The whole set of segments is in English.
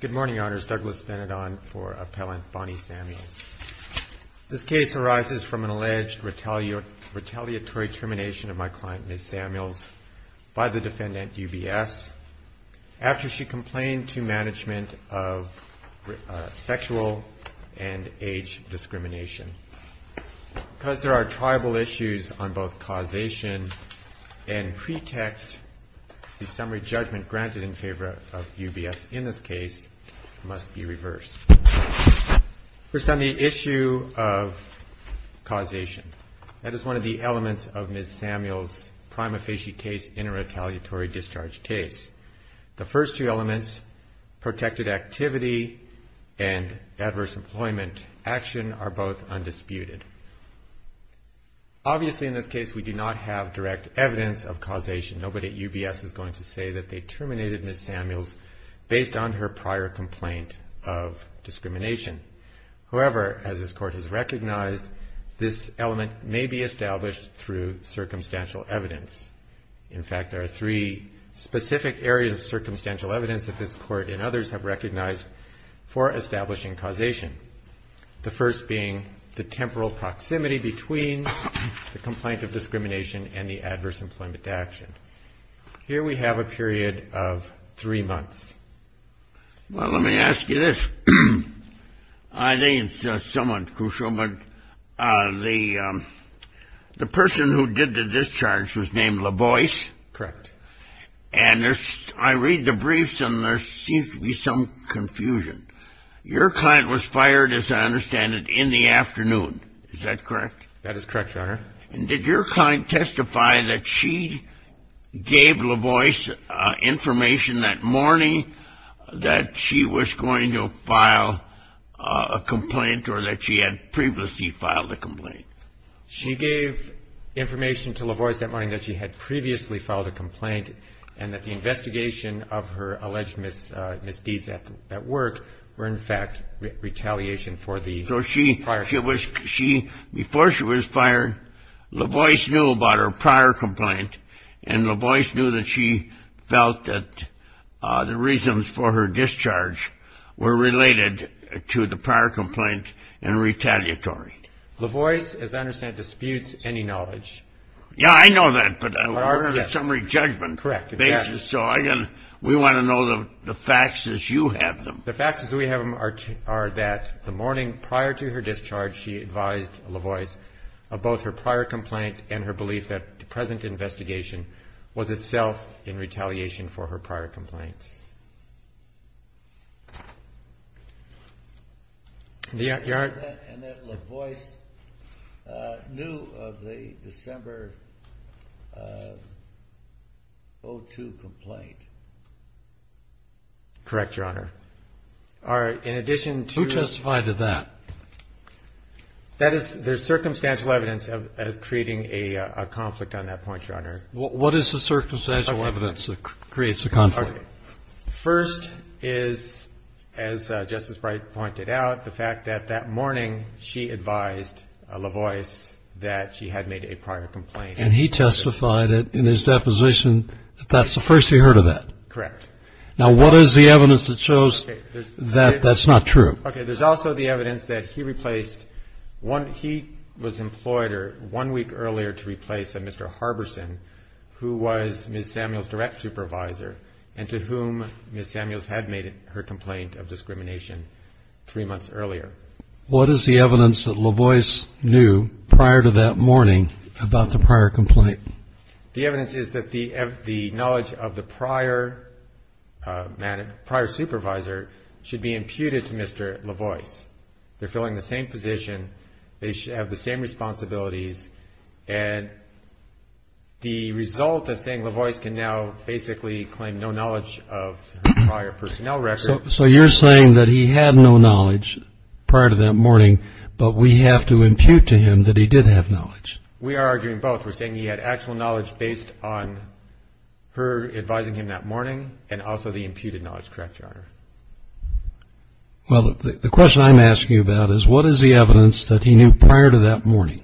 Good morning, Your Honors. Douglas Benidon for Appellant Bonnie Samuels. This case arises from an alleged retaliatory termination of my client, Ms. Samuels, by the defendant UBS, after she complained to management of sexual and age discrimination. Because there are tribal issues on both causation and pretext, the summary judgment granted in favor of UBS in this case must be reversed. First on the issue of causation, that is one of the elements of Ms. Samuels' prima facie case in a retaliatory discharge case. The first two elements, protected activity and adverse employment action, are both undisputed. Obviously in this case we do not have direct evidence of causation. Nobody at UBS is going to say that they terminated Ms. Samuels based on her prior complaint of discrimination. However, as this Court has recognized, this element may be established through circumstantial evidence. In fact, there are three specific areas of circumstantial evidence that this Court and others have recognized for establishing causation, the first being the temporal proximity between the complaint of discrimination and the adverse employment action. Here we have a period of three months. Well, let me ask you this. I think it's somewhat crucial, but the person who did the discharge was named LaVoice. Correct. And I read the briefs and there seems to be some confusion. Your client was fired, as I understand it, in the afternoon. Is that correct? That is correct, Your Honor. And did your client testify that she gave LaVoice information that morning that she was going to file a complaint or that she had previously filed a complaint? She gave information to LaVoice that morning that she had previously filed a complaint and that the investigation of her alleged misdeeds at work were, in fact, retaliation for the prior complaint. In fact, before she was fired, LaVoice knew about her prior complaint and LaVoice knew that she felt that the reasons for her discharge were related to the prior complaint and retaliatory. LaVoice, as I understand it, disputes any knowledge. Yeah, I know that, but we're on a summary judgment basis, so we want to know the facts as you have them. The facts as we have them are that the morning prior to her discharge, she advised LaVoice of both her prior complaint and her belief that the present investigation was itself in retaliation for her prior complaints. And that LaVoice knew of the December 02 complaint? Correct, Your Honor. All right. In addition to the ---- Who testified to that? That is, there's circumstantial evidence of creating a conflict on that point, Your Honor. What is the circumstantial evidence that creates a conflict? First is, as Justice Breyer pointed out, the fact that that morning she advised LaVoice that she had made a prior complaint. And he testified in his deposition that that's the first he heard of that? Correct. Now, what is the evidence that shows that that's not true? Okay, there's also the evidence that he replaced one ---- he was employed one week earlier to replace a Mr. Harberson who was Ms. Samuels' direct supervisor and to whom Ms. Samuels had made her complaint of discrimination three months earlier. What is the evidence that LaVoice knew prior to that morning about the prior complaint? The evidence is that the knowledge of the prior supervisor should be imputed to Mr. LaVoice. They're filling the same position. They should have the same responsibilities. And the result of saying LaVoice can now basically claim no knowledge of her prior personnel record ---- So you're saying that he had no knowledge prior to that morning, but we have to impute to him that he did have knowledge? We are arguing both. We're saying he had actual knowledge based on her advising him that morning and also the imputed knowledge. Correct, Your Honor? Well, the question I'm asking you about is what is the evidence that he knew prior to that morning?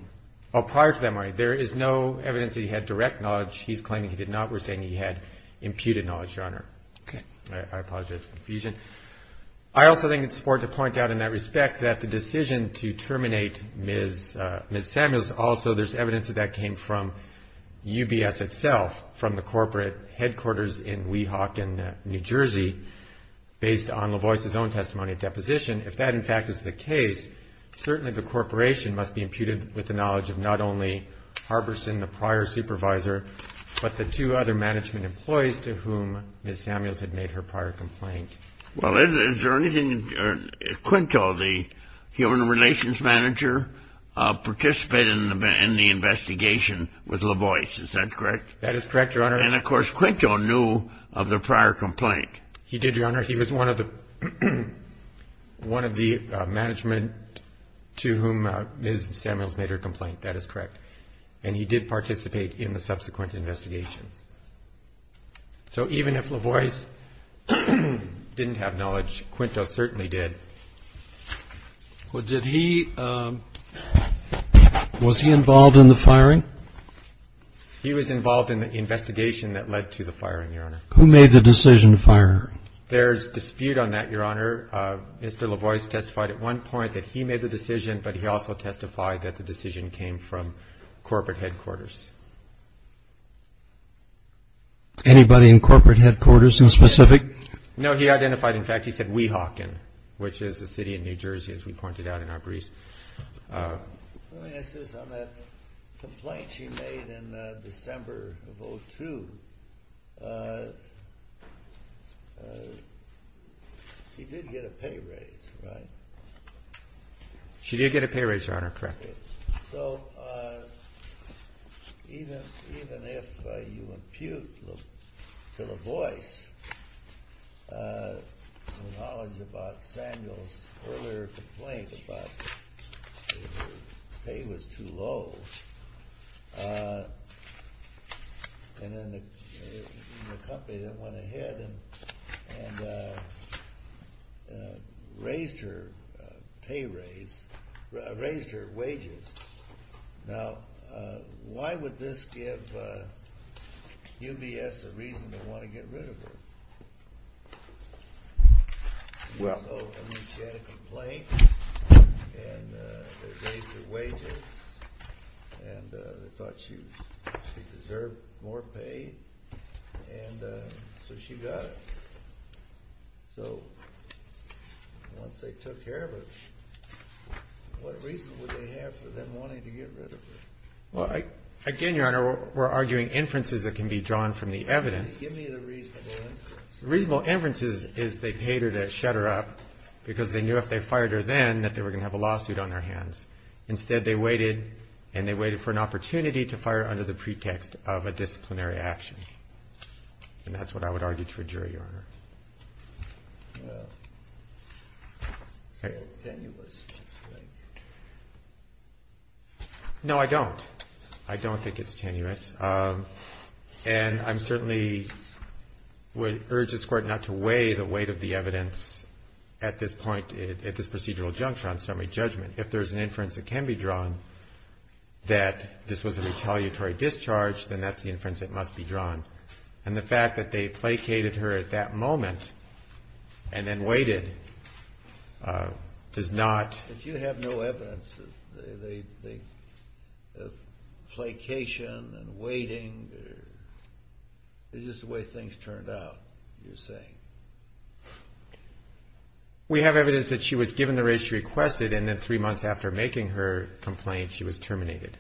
Prior to that morning, there is no evidence that he had direct knowledge. He's claiming he did not. We're saying he had imputed knowledge, Your Honor. Okay. I apologize for the confusion. I also think it's important to point out in that respect that the decision to terminate Ms. Samuels, also there's evidence that that came from UBS itself, from the corporate headquarters in Weehawken, New Jersey, based on LaVoice's own testimony at deposition. If that, in fact, is the case, certainly the corporation must be imputed with the knowledge of not only Harbison, the prior supervisor, but the two other management employees to whom Ms. Samuels had made her prior complaint. Well, is there anything Quinto, the human relations manager, participated in the investigation with LaVoice? Is that correct? That is correct, Your Honor. And, of course, Quinto knew of the prior complaint. He did, Your Honor. He was one of the management to whom Ms. Samuels made her complaint. That is correct. And he did participate in the subsequent investigation. So even if LaVoice didn't have knowledge, Quinto certainly did. Was he involved in the firing? He was involved in the investigation that led to the firing, Your Honor. Who made the decision to fire her? There's dispute on that, Your Honor. Mr. LaVoice testified at one point that he made the decision, but he also testified that the decision came from corporate headquarters. Anybody in corporate headquarters in specific? No, he identified, in fact, he said Weehawken, which is a city in New Jersey, as we pointed out in our brief. Let me ask this. On that complaint she made in December of 2002, she did get a pay raise, right? She did get a pay raise, Your Honor. Correct. So even if you impute to LaVoice the knowledge about Samuels' earlier complaint about her pay was too low, and then the company that went ahead and raised her wages, now why would this give UBS a reason to want to get rid of her? She had a complaint, and they raised her wages, and they thought she deserved more pay, and so she got it. So once they took care of her, what reason would they have for them wanting to get rid of her? Again, Your Honor, we're arguing inferences that can be drawn from the evidence. Give me the reasonable inferences. The reasonable inference is they paid her to shut her up because they knew if they fired her then that they were going to have a lawsuit on their hands. Instead, they waited, and they waited for an opportunity to fire her under the pretext of a disciplinary action. And that's what I would argue to a jury, Your Honor. Well, you're tenuous, I think. No, I don't. I don't think it's tenuous. And I certainly would urge this Court not to weigh the weight of the evidence at this point, at this procedural juncture on summary judgment. If there's an inference that can be drawn that this was a retaliatory discharge, then that's the inference that must be drawn. And the fact that they placated her at that moment and then waited does not ---- It's just the way things turned out, you're saying. We have evidence that she was given the raise she requested, and then three months after making her complaint, she was terminated.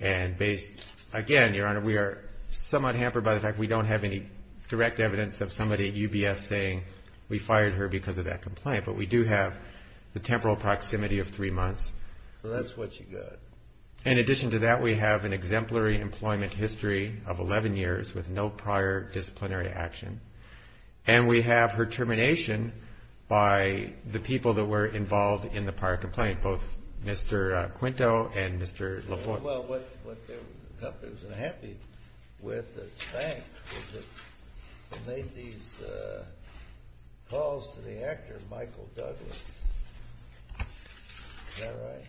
And based, again, Your Honor, we are somewhat hampered by the fact we don't have any direct evidence of somebody at UBS saying, we fired her because of that complaint. But we do have the temporal proximity of three months. Well, that's what you got. In addition to that, we have an exemplary employment history of 11 years with no prior disciplinary action. And we have her termination by the people that were involved in the prior complaint, both Mr. Quinto and Mr. LaForte. Well, what the company was unhappy with that spanked was that they made these calls to the actor, Michael Douglas. Is that right?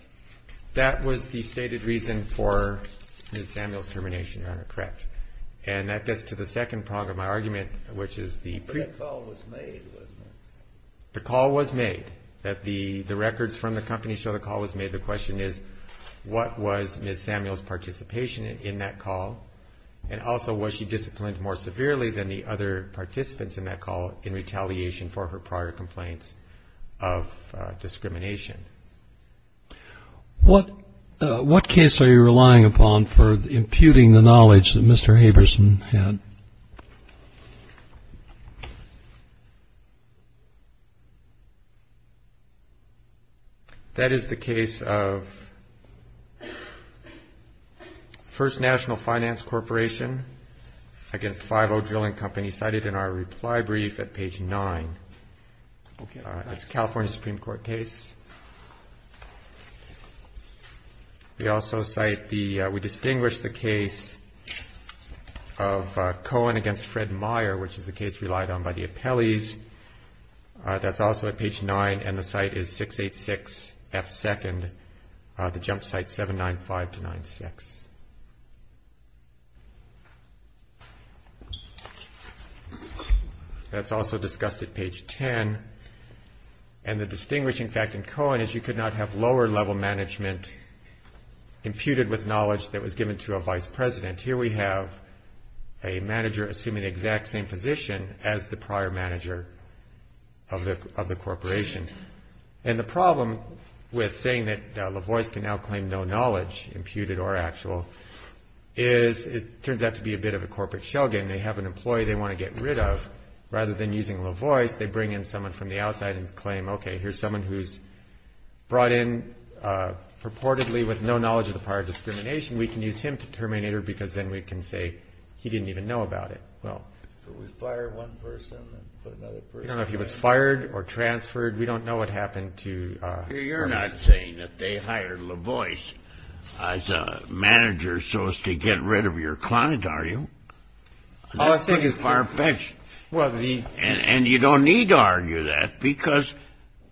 That was the stated reason for Ms. Samuel's termination, Your Honor. Correct. And that gets to the second prong of my argument, which is the ---- But that call was made, wasn't it? The call was made. The records from the company show the call was made. The question is, what was Ms. Samuel's participation in that call? And also, was she disciplined more severely than the other participants in that call in retaliation for her prior complaints of discrimination? What case are you relying upon for imputing the knowledge that Mr. Haberson had? That is the case of First National Finance Corporation against Five-O Drilling Company, cited in our reply brief at page 9. That's a California Supreme Court case. We also cite the ---- we distinguish the case of Cohen against Fred Meyer, which is the case relied on by the appellees. That's also at page 9, and the site is 686F2nd, the jump site 795-96. That's also discussed at page 10. And the distinguishing fact in Cohen is you could not have lower-level management imputed with knowledge that was given to a vice president. Here we have a manager assuming the exact same position as the prior manager of the corporation. And the problem with saying that Lavois can now claim no knowledge, imputed or actual, is it turns out to be a bit of a corporate shogun. They have an employee they want to get rid of. Rather than using Lavois, they bring in someone from the outside and claim, okay, here's someone who's brought in purportedly with no knowledge of the prior discrimination. We can use him to terminate her because then we can say he didn't even know about it. Well, if it was fired one person and put another person in. I don't know if he was fired or transferred. We don't know what happened to Lavois. You're not saying that they hired Lavois as a manager so as to get rid of your client, are you? All I think is far-fetched. And you don't need to argue that because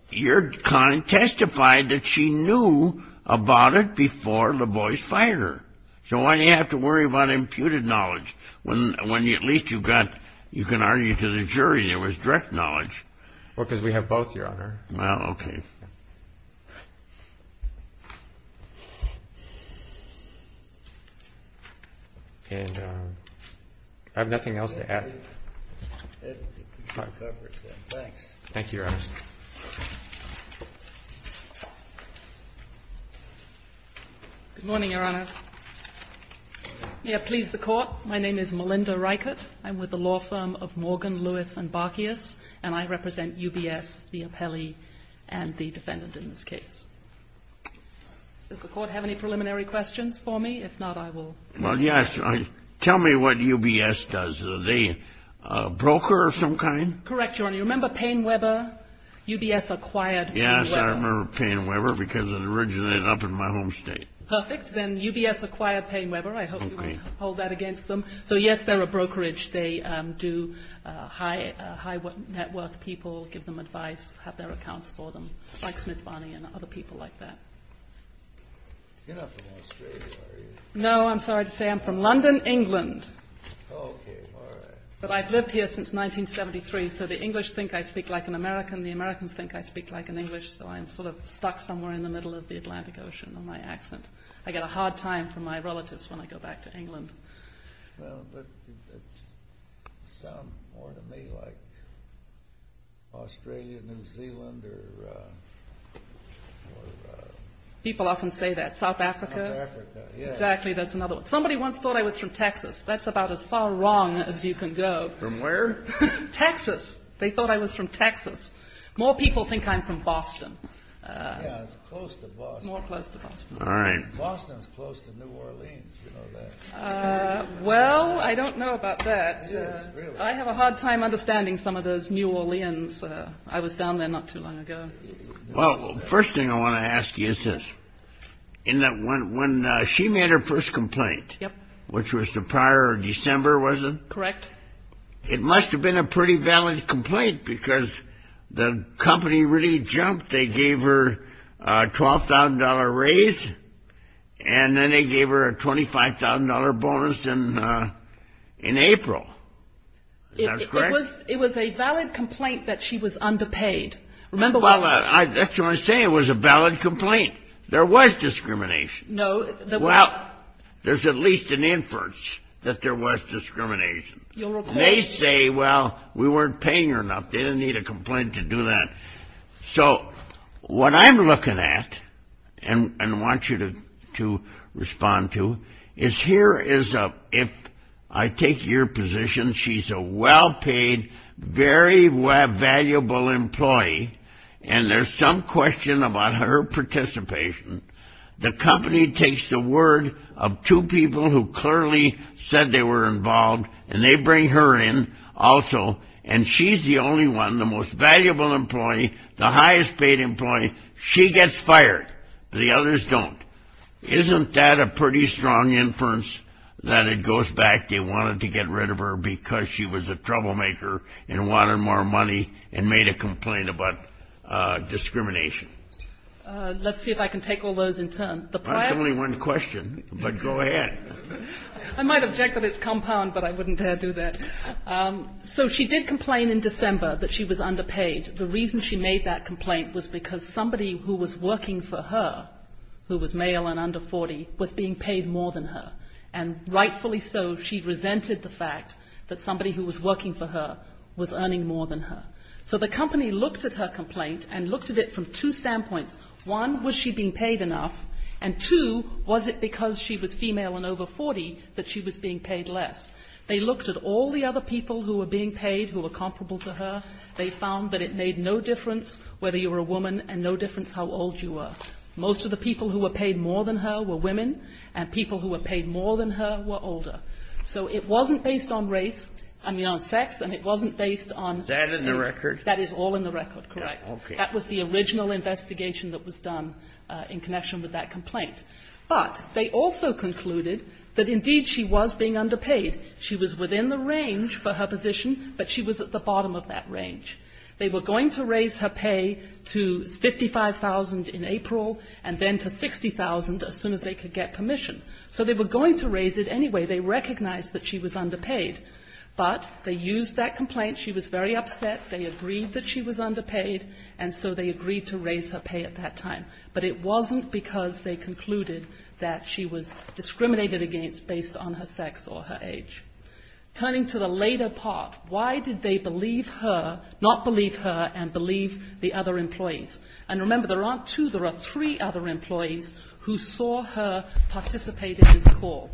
your client testified that she knew about it before Lavois fired her. So why do you have to worry about imputed knowledge when at least you can argue to the jury there was direct knowledge? Because we have both, Your Honor. Okay. I have nothing else to add. Thank you, Your Honor. Good morning, Your Honor. May it please the Court. My name is Melinda Reichert. I'm with the law firm of Morgan, Lewis, and Barkeas, and I represent UBS, the appellee, and the defendant in this case. Does the Court have any preliminary questions for me? If not, I will. Well, yes. Tell me what UBS does. Are they a broker of some kind? Correct, Your Honor. Do you remember Payne Webber? UBS acquired Payne Webber. Yes, I remember Payne Webber because it originated up in my home state. Perfect. Then UBS acquired Payne Webber. I hope you won't hold that against them. So, yes, they're a brokerage. They do high net worth people, give them advice, have their accounts for them, like Smith Barney and other people like that. You're not from Australia, are you? No. I'm sorry to say I'm from London, England. Okay. All right. But I've lived here since 1973, so the English think I speak like an American, the Americans think I speak like an English, so I'm sort of stuck somewhere in the middle of the Atlantic Ocean on my accent. I get a hard time from my relatives when I go back to England. Well, but it sounds more to me like Australia, New Zealand, or... People often say that. South Africa? South Africa, yes. Exactly. That's another one. Somebody once thought I was from Texas. That's about as far wrong as you can go. From where? Texas. They thought I was from Texas. More people think I'm from Boston. Yeah, it's close to Boston. More close to Boston. All right. Boston's close to New Orleans, you know that. Well, I don't know about that. I have a hard time understanding some of those New Orleans. I was down there not too long ago. Well, the first thing I want to ask you is this. When she made her first complaint, which was the prior December, was it? Correct. It must have been a pretty valid complaint because the company really jumped. They gave her a $12,000 raise, and then they gave her a $25,000 bonus in April. Is that correct? It was a valid complaint that she was underpaid. Well, that's what I'm saying. It was a valid complaint. There was discrimination. Well, there's at least an inference that there was discrimination. They say, well, we weren't paying her enough. They didn't need a complaint to do that. So what I'm looking at and want you to respond to is here is a, if I take your position, she's a well-paid, very valuable employee, and there's some question about her participation. The company takes the word of two people who clearly said they were involved, and they bring her in also, and she's the only one, the most valuable employee, the highest-paid employee. She gets fired. The others don't. Isn't that a pretty strong inference that it goes back? They wanted to get rid of her because she was a troublemaker and wanted more money and made a complaint about discrimination. Let's see if I can take all those in turn. That's only one question, but go ahead. I might object that it's compound, but I wouldn't dare do that. So she did complain in December that she was underpaid. The reason she made that complaint was because somebody who was working for her, who was male and under 40, was being paid more than her. And rightfully so, she resented the fact that somebody who was working for her was earning more than her. So the company looked at her complaint and looked at it from two standpoints. One, was she being paid enough? And two, was it because she was female and over 40 that she was being paid less? They looked at all the other people who were being paid who were comparable to her. They found that it made no difference whether you were a woman and no difference how old you were. Most of the people who were paid more than her were women, and people who were paid more than her were older. So it wasn't based on race, I mean, on sex, and it wasn't based on race. That in the record? That is all in the record, correct. Okay. That was the original investigation that was done in connection with that complaint. But they also concluded that, indeed, she was being underpaid. She was within the range for her position, but she was at the bottom of that range. They were going to raise her pay to $55,000 in April and then to $60,000 as soon as they could get permission. So they were going to raise it anyway. They recognized that she was underpaid. But they used that complaint. She was very upset. They agreed that she was underpaid, and so they agreed to raise her pay at that time. But it wasn't because they concluded that she was discriminated against based on her sex or her age. Turning to the later part, why did they believe her, not believe her, and believe the other employees? And remember, there aren't two. There are three other employees who saw her participate in this call.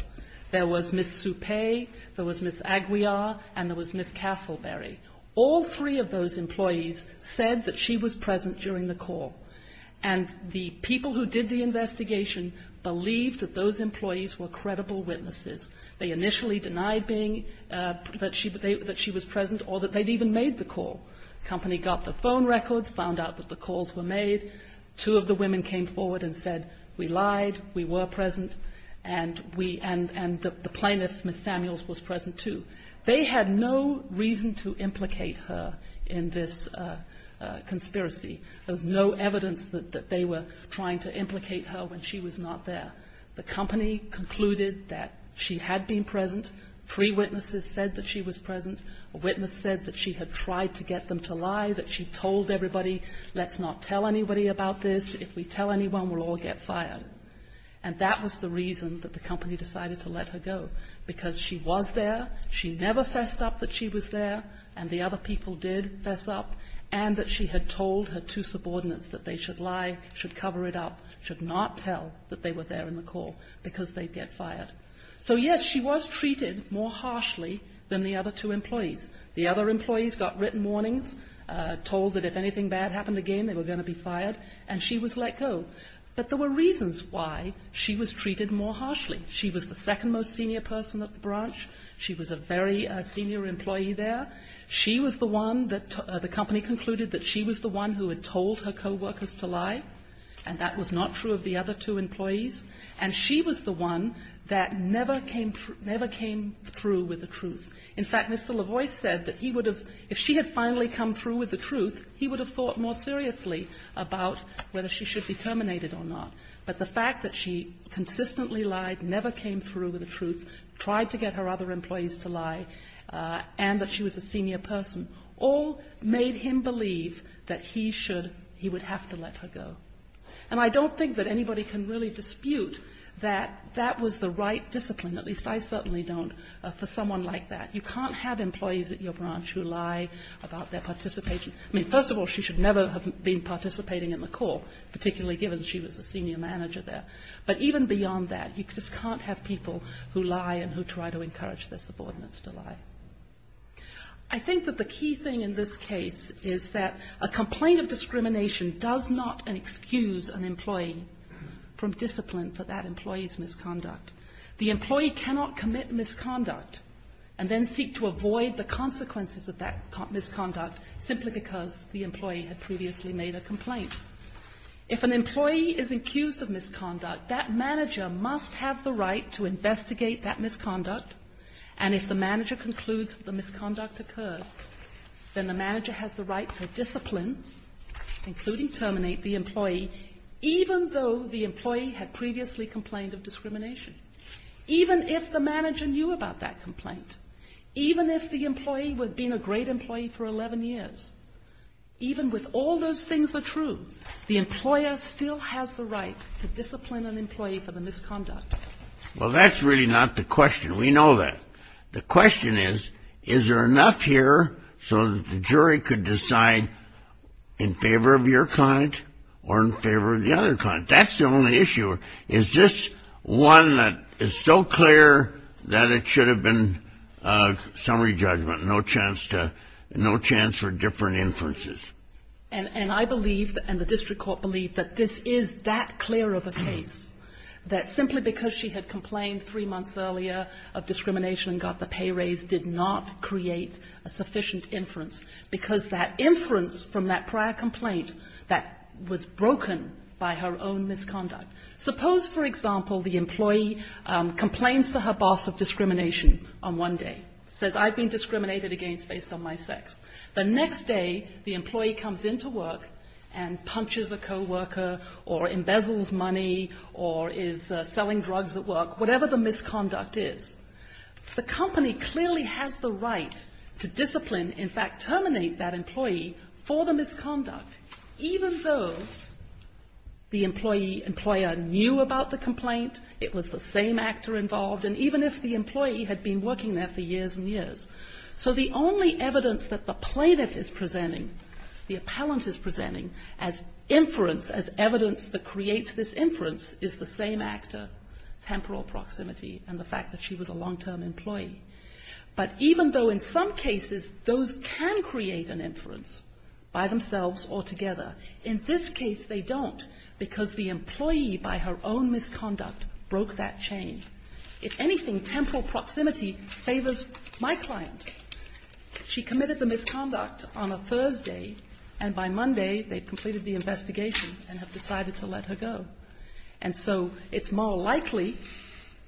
There was Ms. Suppe, there was Ms. Aguiar, and there was Ms. Castleberry. All three of those employees said that she was present during the call. And the people who did the investigation believed that those employees were credible witnesses. They initially denied being that she was present or that they'd even made the call. The company got the phone records, found out that the calls were made. Two of the women came forward and said, we lied, we were present, and the plaintiff, Ms. Samuels, was present too. They had no reason to implicate her in this conspiracy. There was no evidence that they were trying to implicate her when she was not there. The company concluded that she had been present, three witnesses said that she was present, a witness said that she had tried to get them to lie, that she told everybody, let's not tell anybody about this. If we tell anyone, we'll all get fired. And that was the reason that the company decided to let her go, because she was there, she never fessed up that she was there, and the other people did fess up, and that she had told her two subordinates that they should lie, should cover it up, should not tell that they were there in the call, because they'd get fired. So yes, she was treated more harshly than the other two employees. The other employees got written warnings, told that if anything bad happened again, they were going to be fired, and she was let go. But there were reasons why she was treated more harshly. She was the second most senior person at the branch, she was a very senior employee there. She was the one that the company concluded that she was the one who had told her coworkers to lie, and that was not true of the other two employees. And she was the one that never came through with the truth. In fact, Mr. Lavoie said that he would have, if she had finally come through with the truth, he would have thought more seriously about whether she should be terminated or not. But the fact that she consistently lied, never came through with the truth, tried to get her other employees to lie, and that she was a senior person, all made him believe that he would have to let her go. And I don't think that anybody can really dispute that that was the right discipline, at least I certainly don't, for someone like that. You can't have employees at your branch who lie about their participation. I mean, first of all, she should never have been participating in the call, particularly given she was a senior manager there. But even beyond that, you just can't have people who lie and who try to encourage their subordinates to lie. I think that the key thing in this case is that a complaint of discrimination does not excuse an employee from discipline for that employee's misconduct. The employee cannot commit misconduct and then seek to avoid the consequences of that misconduct If an employee is accused of misconduct, that manager must have the right to investigate that misconduct. And if the manager concludes that the misconduct occurred, then the manager has the right to discipline, including terminate, the employee, even though the employee had previously complained of discrimination. Even if the manager knew about that complaint, even if the employee had been a great employee for 11 years, even with all those things are true, the employer still has the right to discipline an employee for the misconduct. Well, that's really not the question. We know that. The question is, is there enough here so that the jury could decide in favor of your client or in favor of the other client? That's the only issue. Is this one that is so clear that it should have been summary judgment, no chance for different inferences? And I believe, and the district court believed, that this is that clear of a case, that simply because she had complained three months earlier of discrimination and got the pay raise did not create a sufficient inference, because that inference from that prior complaint that was broken by her own misconduct. Suppose, for example, the employee complains to her boss of discrimination on one day, says, I've been discriminated against based on my sex. The next day, the employee comes into work and punches a coworker or embezzles money or is selling drugs at work, whatever the misconduct is. The company clearly has the right to discipline, in fact terminate, that employee for the misconduct, even though the employee, employer knew about the complaint, it was the same actor involved, and even if the employee had been working there for years and years. So the only evidence that the plaintiff is presenting, the appellant is presenting, as inference, as evidence that creates this inference, is the same actor, temporal proximity, and the fact that she was a long-term employee. But even though in some cases those can create an inference by themselves or together, in this case they don't, because the employee by her own misconduct broke that chain. If anything, temporal proximity favors my client. She committed the misconduct on a Thursday, and by Monday they've completed the investigation and have decided to let her go. And so it's more likely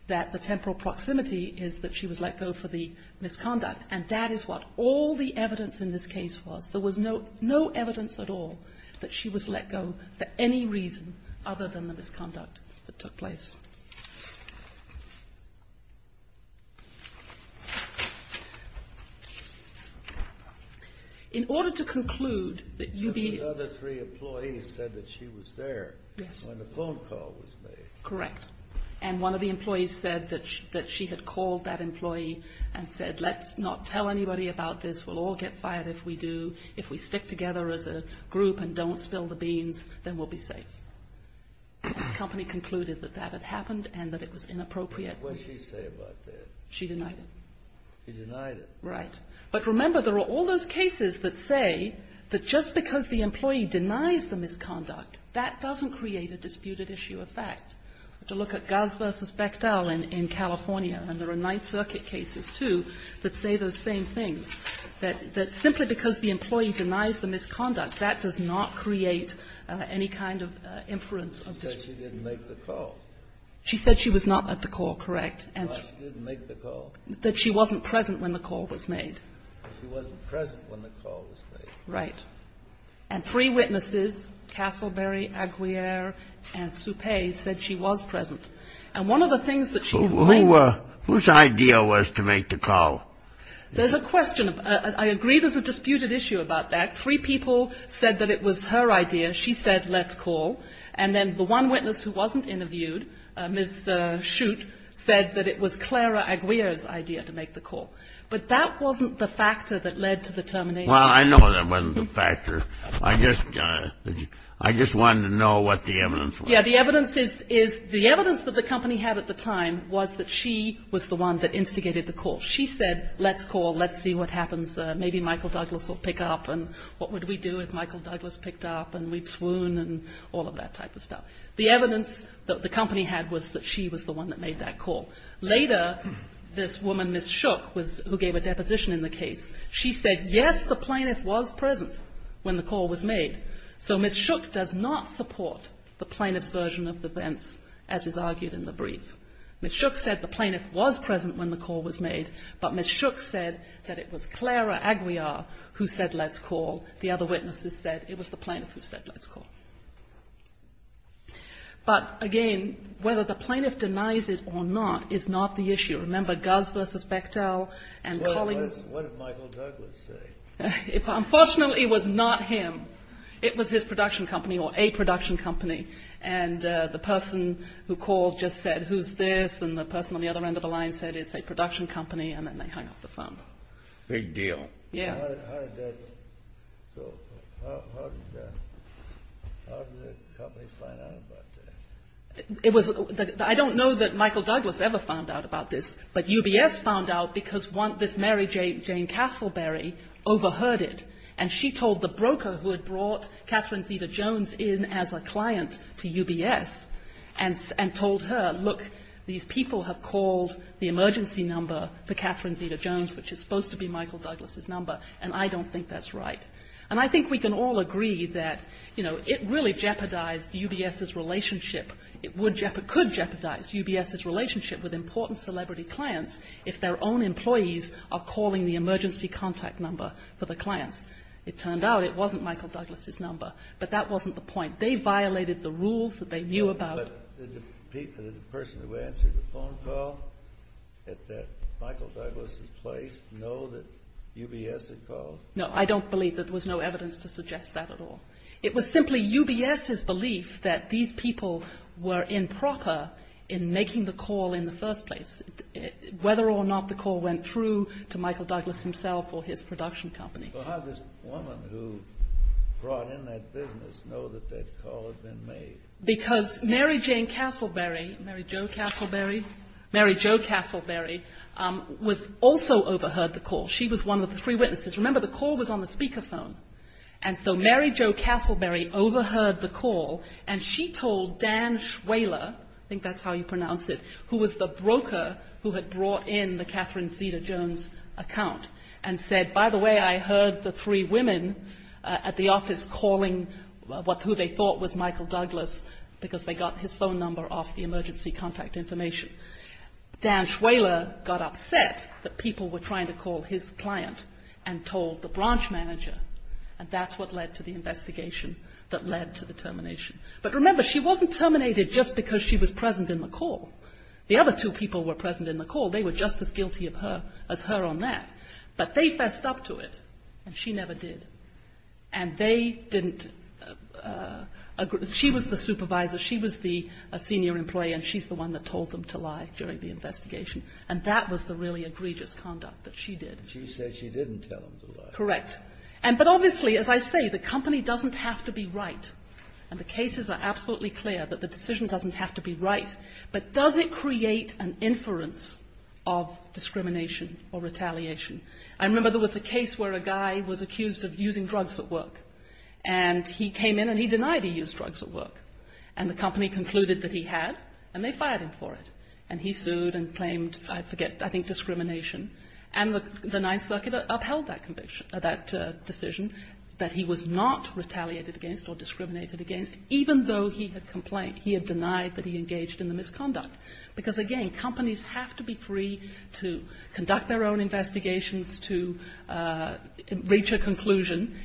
that the temporal proximity is that she was let go for the misconduct, and that is what all the evidence in this case was. There was no evidence at all that she was let go for any reason other than the misconduct that took place. In order to conclude that you need. The other three employees said that she was there when the phone call was made. Correct. And one of the employees said that she had called that employee and said, let's not tell anybody about this. We'll all get fired if we do. If we stick together as a group and don't spill the beans, then we'll be safe. The company concluded that that had happened and that it was inappropriate. What did she say about that? She denied it. She denied it. Right. But remember, there are all those cases that say that just because the employee denies the misconduct, that doesn't create a disputed issue of fact. To look at Goss versus Bechtel in California, and there are Ninth Circuit cases, too, that say those same things, that simply because the employee denies the misconduct, that does not create any kind of inference of dispute. She said she didn't make the call. She said she was not at the call, correct. She said she didn't make the call. That she wasn't present when the call was made. She wasn't present when the call was made. Right. And three witnesses, Castleberry, Aguiar, and Suppe, said she was present. And one of the things that she called them. Whose idea was to make the call? There's a question. I agree there's a disputed issue about that. Three people said that it was her idea. She said, let's call. And then the one witness who wasn't interviewed, Ms. Schutt, said that it was Clara Aguiar's idea to make the call. But that wasn't the factor that led to the termination. Well, I know that wasn't the factor. I just wanted to know what the evidence was. Yeah. The evidence is the evidence that the company had at the time was that she was the one that instigated the call. She said, let's call. Let's see what happens. Maybe Michael Douglas will pick up. And what would we do if Michael Douglas picked up? And we'd swoon and all of that type of stuff. The evidence that the company had was that she was the one that made that call. Later, this woman, Ms. Schutt, who gave a deposition in the case, she said, yes, the plaintiff was present when the call was made. So Ms. Schutt does not support the plaintiff's version of events as is argued in the brief. Ms. Schutt said the plaintiff was present when the call was made, but Ms. Schutt said that it was Clara Aguiar who said, let's call. The other witnesses said it was the plaintiff who said, let's call. But, again, whether the plaintiff denies it or not is not the issue. Remember, Guz versus Bechtel and Collings. What did Michael Douglas say? Unfortunately, it was not him. It was his production company or a production company. And the person who called just said, who's this? And the person on the other end of the line said, it's a production company. And then they hung up the phone. Big deal. Yeah. So how did the company find out about that? I don't know that Michael Douglas ever found out about this. But UBS found out because this Mary Jane Castleberry overheard it. And she told the broker who had brought Catherine Zeta-Jones in as a client to UBS and told her, look, these people have called the emergency number for Catherine Zeta-Jones, which is supposed to be Michael Douglas's number, and I don't think that's right. And I think we can all agree that, you know, it really jeopardized UBS's relationship. It would jeopardize, could jeopardize UBS's relationship with important celebrity clients if their own employees are calling the emergency contact number for the clients. It turned out it wasn't Michael Douglas's number. But that wasn't the point. They violated the rules that they knew about. Did the person who answered the phone call at that Michael Douglas's place know that UBS had called? No, I don't believe that there was no evidence to suggest that at all. It was simply UBS's belief that these people were improper in making the call in the first place, whether or not the call went through to Michael Douglas himself or his production company. Well, how did this woman who brought in that business know that that call had been made? Because Mary Jane Castleberry, Mary Jo Castleberry, Mary Jo Castleberry was also overheard the call. She was one of the three witnesses. Remember, the call was on the speakerphone. And so Mary Jo Castleberry overheard the call, and she told Dan Schwaler, I think that's how you pronounce it, who was the broker who had brought in the Catherine heard the three women at the office calling who they thought was Michael Douglas because they got his phone number off the emergency contact information. Dan Schwaler got upset that people were trying to call his client and told the branch manager. And that's what led to the investigation that led to the termination. But remember, she wasn't terminated just because she was present in the call. The other two people were present in the call. They were just as guilty of her as her on that. But they fessed up to it, and she never did. And they didn't agree. She was the supervisor. She was the senior employee, and she's the one that told them to lie during the investigation. And that was the really egregious conduct that she did. And she said she didn't tell them to lie. Correct. But obviously, as I say, the company doesn't have to be right. And the cases are absolutely clear that the decision doesn't have to be right. But does it create an inference of discrimination or retaliation? I remember there was a case where a guy was accused of using drugs at work. And he came in and he denied he used drugs at work. And the company concluded that he had, and they fired him for it. And he sued and claimed, I forget, I think discrimination. And the Ninth Circuit upheld that decision, that he was not retaliated against or discriminated against, even though he had complained. And he denied that he engaged in the misconduct. Because, again, companies have to be free to conduct their own investigations to reach a conclusion,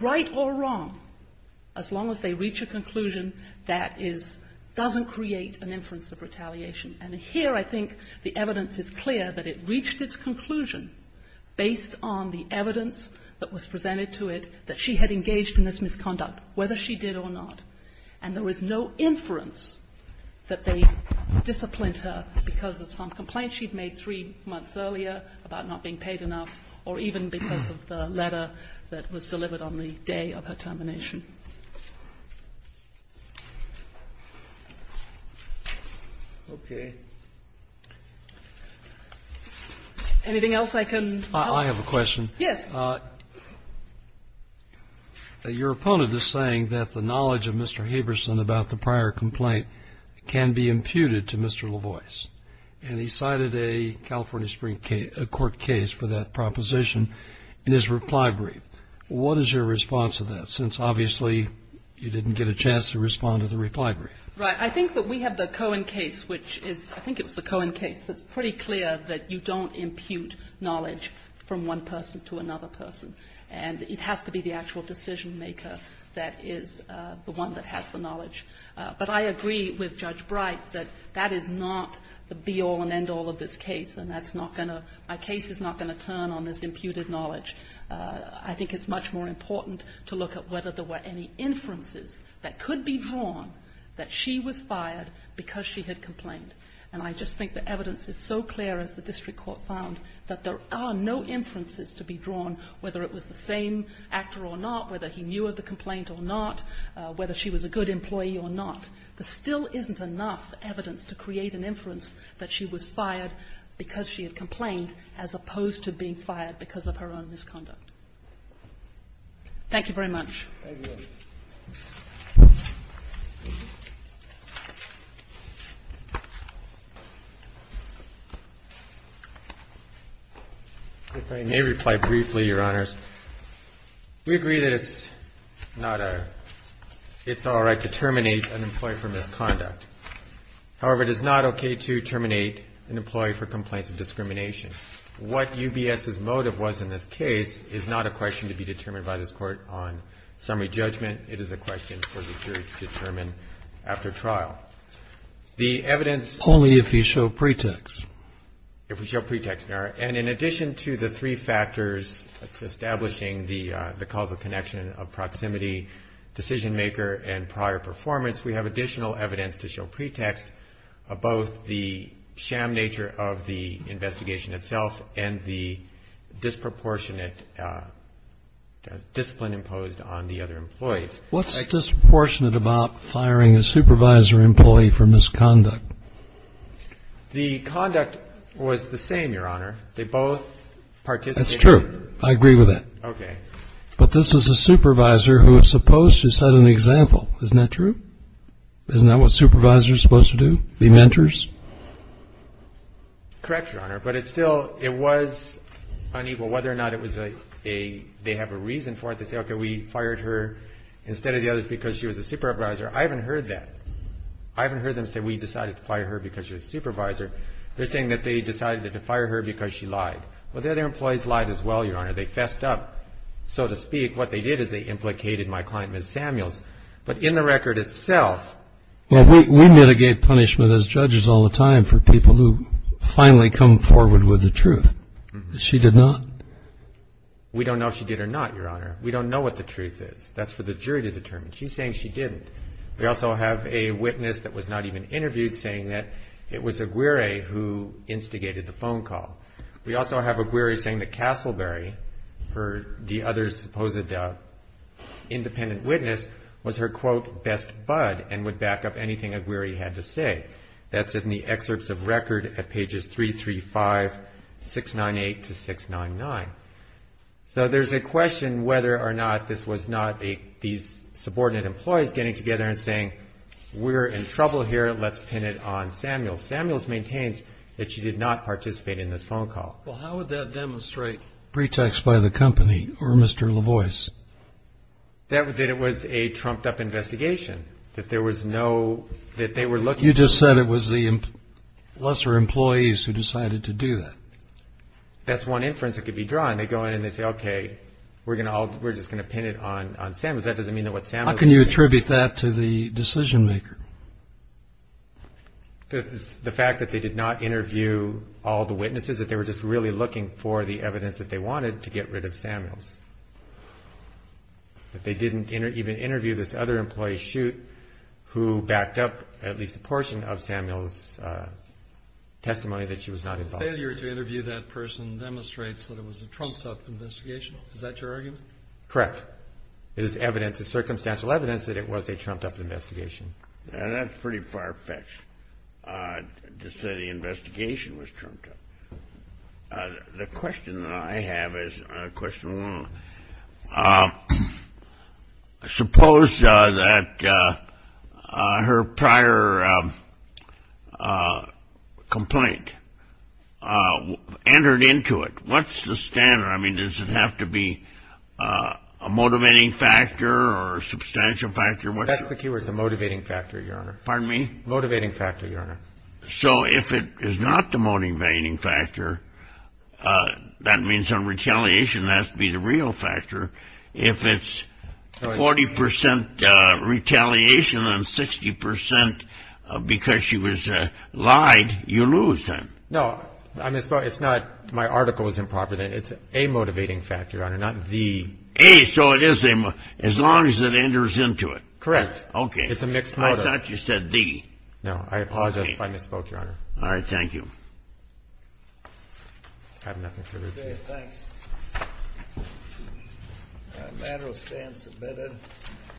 right or wrong, as long as they reach a conclusion that doesn't create an inference of retaliation. And here I think the evidence is clear that it reached its conclusion based on the evidence that was presented to it that she had engaged in this misconduct, whether she did or not. And there was no inference that they disciplined her because of some complaints she'd made three months earlier about not being paid enough or even because of the letter that was delivered on the day of her termination. Okay. Anything else I can help? I have a question. Yes. Your opponent is saying that the knowledge of Mr. Haberson about the prior complaint can be imputed to Mr. LaVoies. And he cited a California Supreme Court case for that proposition in his reply brief. What is your response to that, since obviously you didn't get a chance to respond to the reply brief? Right. I think that we have the Cohen case, which is, I think it was the Cohen case, that's pretty clear that you don't impute knowledge from one person to another person, and it has to be the actual decision-maker that is the one that has the knowledge. But I agree with Judge Bright that that is not the be-all and end-all of this case, and that's not going to – my case is not going to turn on this imputed knowledge. I think it's much more important to look at whether there were any inferences that could be drawn that she was fired because she had complained. And I just think the evidence is so clear, as the district court found, that there are no inferences to be drawn whether it was the same actor or not, whether he knew of the complaint or not, whether she was a good employee or not. There still isn't enough evidence to create an inference that she was fired because she had complained as opposed to being fired because of her own misconduct. Thank you very much. Thank you. If I may reply briefly, Your Honors. We agree that it's not a – it's all right to terminate an employee for misconduct. However, it is not okay to terminate an employee for complaints of discrimination. What UBS's motive was in this case is not a question to be determined by this Court on summary judgment. It is a question for the jury to determine after trial. The evidence – Only if you show pretext. If we show pretext, Your Honor. And in addition to the three factors establishing the causal connection of proximity, decision-maker, and prior performance, we have additional evidence to show pretext of both the sham nature of the investigation itself and the disproportionate discipline imposed on the other employees. What's disproportionate about firing a supervisor employee for misconduct? The conduct was the same, Your Honor. They both participated. That's true. I agree with that. Okay. But this is a supervisor who is supposed to set an example. Isn't that true? Isn't that what supervisors are supposed to do, be mentors? Correct, Your Honor. But it's still – it was unequal whether or not it was a – they have a reason for it. They say, okay, we fired her instead of the others because she was a supervisor. I haven't heard that. I haven't heard them say we decided to fire her because she was a supervisor. They're saying that they decided to fire her because she lied. Well, the other employees lied as well, Your Honor. They fessed up, so to speak. What they did is they implicated my client, Ms. Samuels. But in the record itself – Well, we mitigate punishment as judges all the time for people who finally come forward with the truth. She did not. We don't know if she did or not, Your Honor. We don't know what the truth is. That's for the jury to determine. She's saying she didn't. We also have a witness that was not even interviewed saying that it was Aguirre who instigated the phone call. We also have Aguirre saying that Castleberry, the other supposed independent witness, was her, quote, best bud and would back up anything Aguirre had to say. That's in the excerpts of record at pages 335, 698 to 699. So there's a question whether or not this was not these subordinate employees getting together and saying, we're in trouble here, let's pin it on Samuels. Samuels maintains that she did not participate in this phone call. Well, how would that demonstrate pretext by the company or Mr. LaVoie's? That it was a trumped-up investigation, that there was no – that they were looking for – You just said it was the lesser employees who decided to do that. That's one inference that could be drawn. They go in and they say, okay, we're just going to pin it on Samuels. That doesn't mean that what Samuels – How can you attribute that to the decision-maker? The fact that they did not interview all the witnesses, that they were just really looking for the evidence that they wanted to get rid of Samuels. That they didn't even interview this other employee, Shute, who backed up at least a portion of Samuels' testimony that she was not involved. Failure to interview that person demonstrates that it was a trumped-up investigation. Is that your argument? Correct. It is evidence, it's circumstantial evidence that it was a trumped-up investigation. That's pretty far-fetched to say the investigation was trumped-up. The question that I have is a question along – suppose that her prior complaint entered into it. What's the standard? I mean, does it have to be a motivating factor or a substantial factor? That's the key word. It's a motivating factor, Your Honor. Pardon me? Motivating factor, Your Honor. So if it is not the motivating factor, that means on retaliation that has to be the real factor. If it's 40 percent retaliation and 60 percent because she was lied, you lose then. No. It's not my article was improper. It's a motivating factor, Your Honor, not the – A, so it is a – as long as it enters into it. Correct. Okay. It's a mixed motive. I thought you said D. No. I apologize if I misspoke, Your Honor. All right. Thank you. I have nothing further to say. Okay. Thanks. The matter will stand submitted.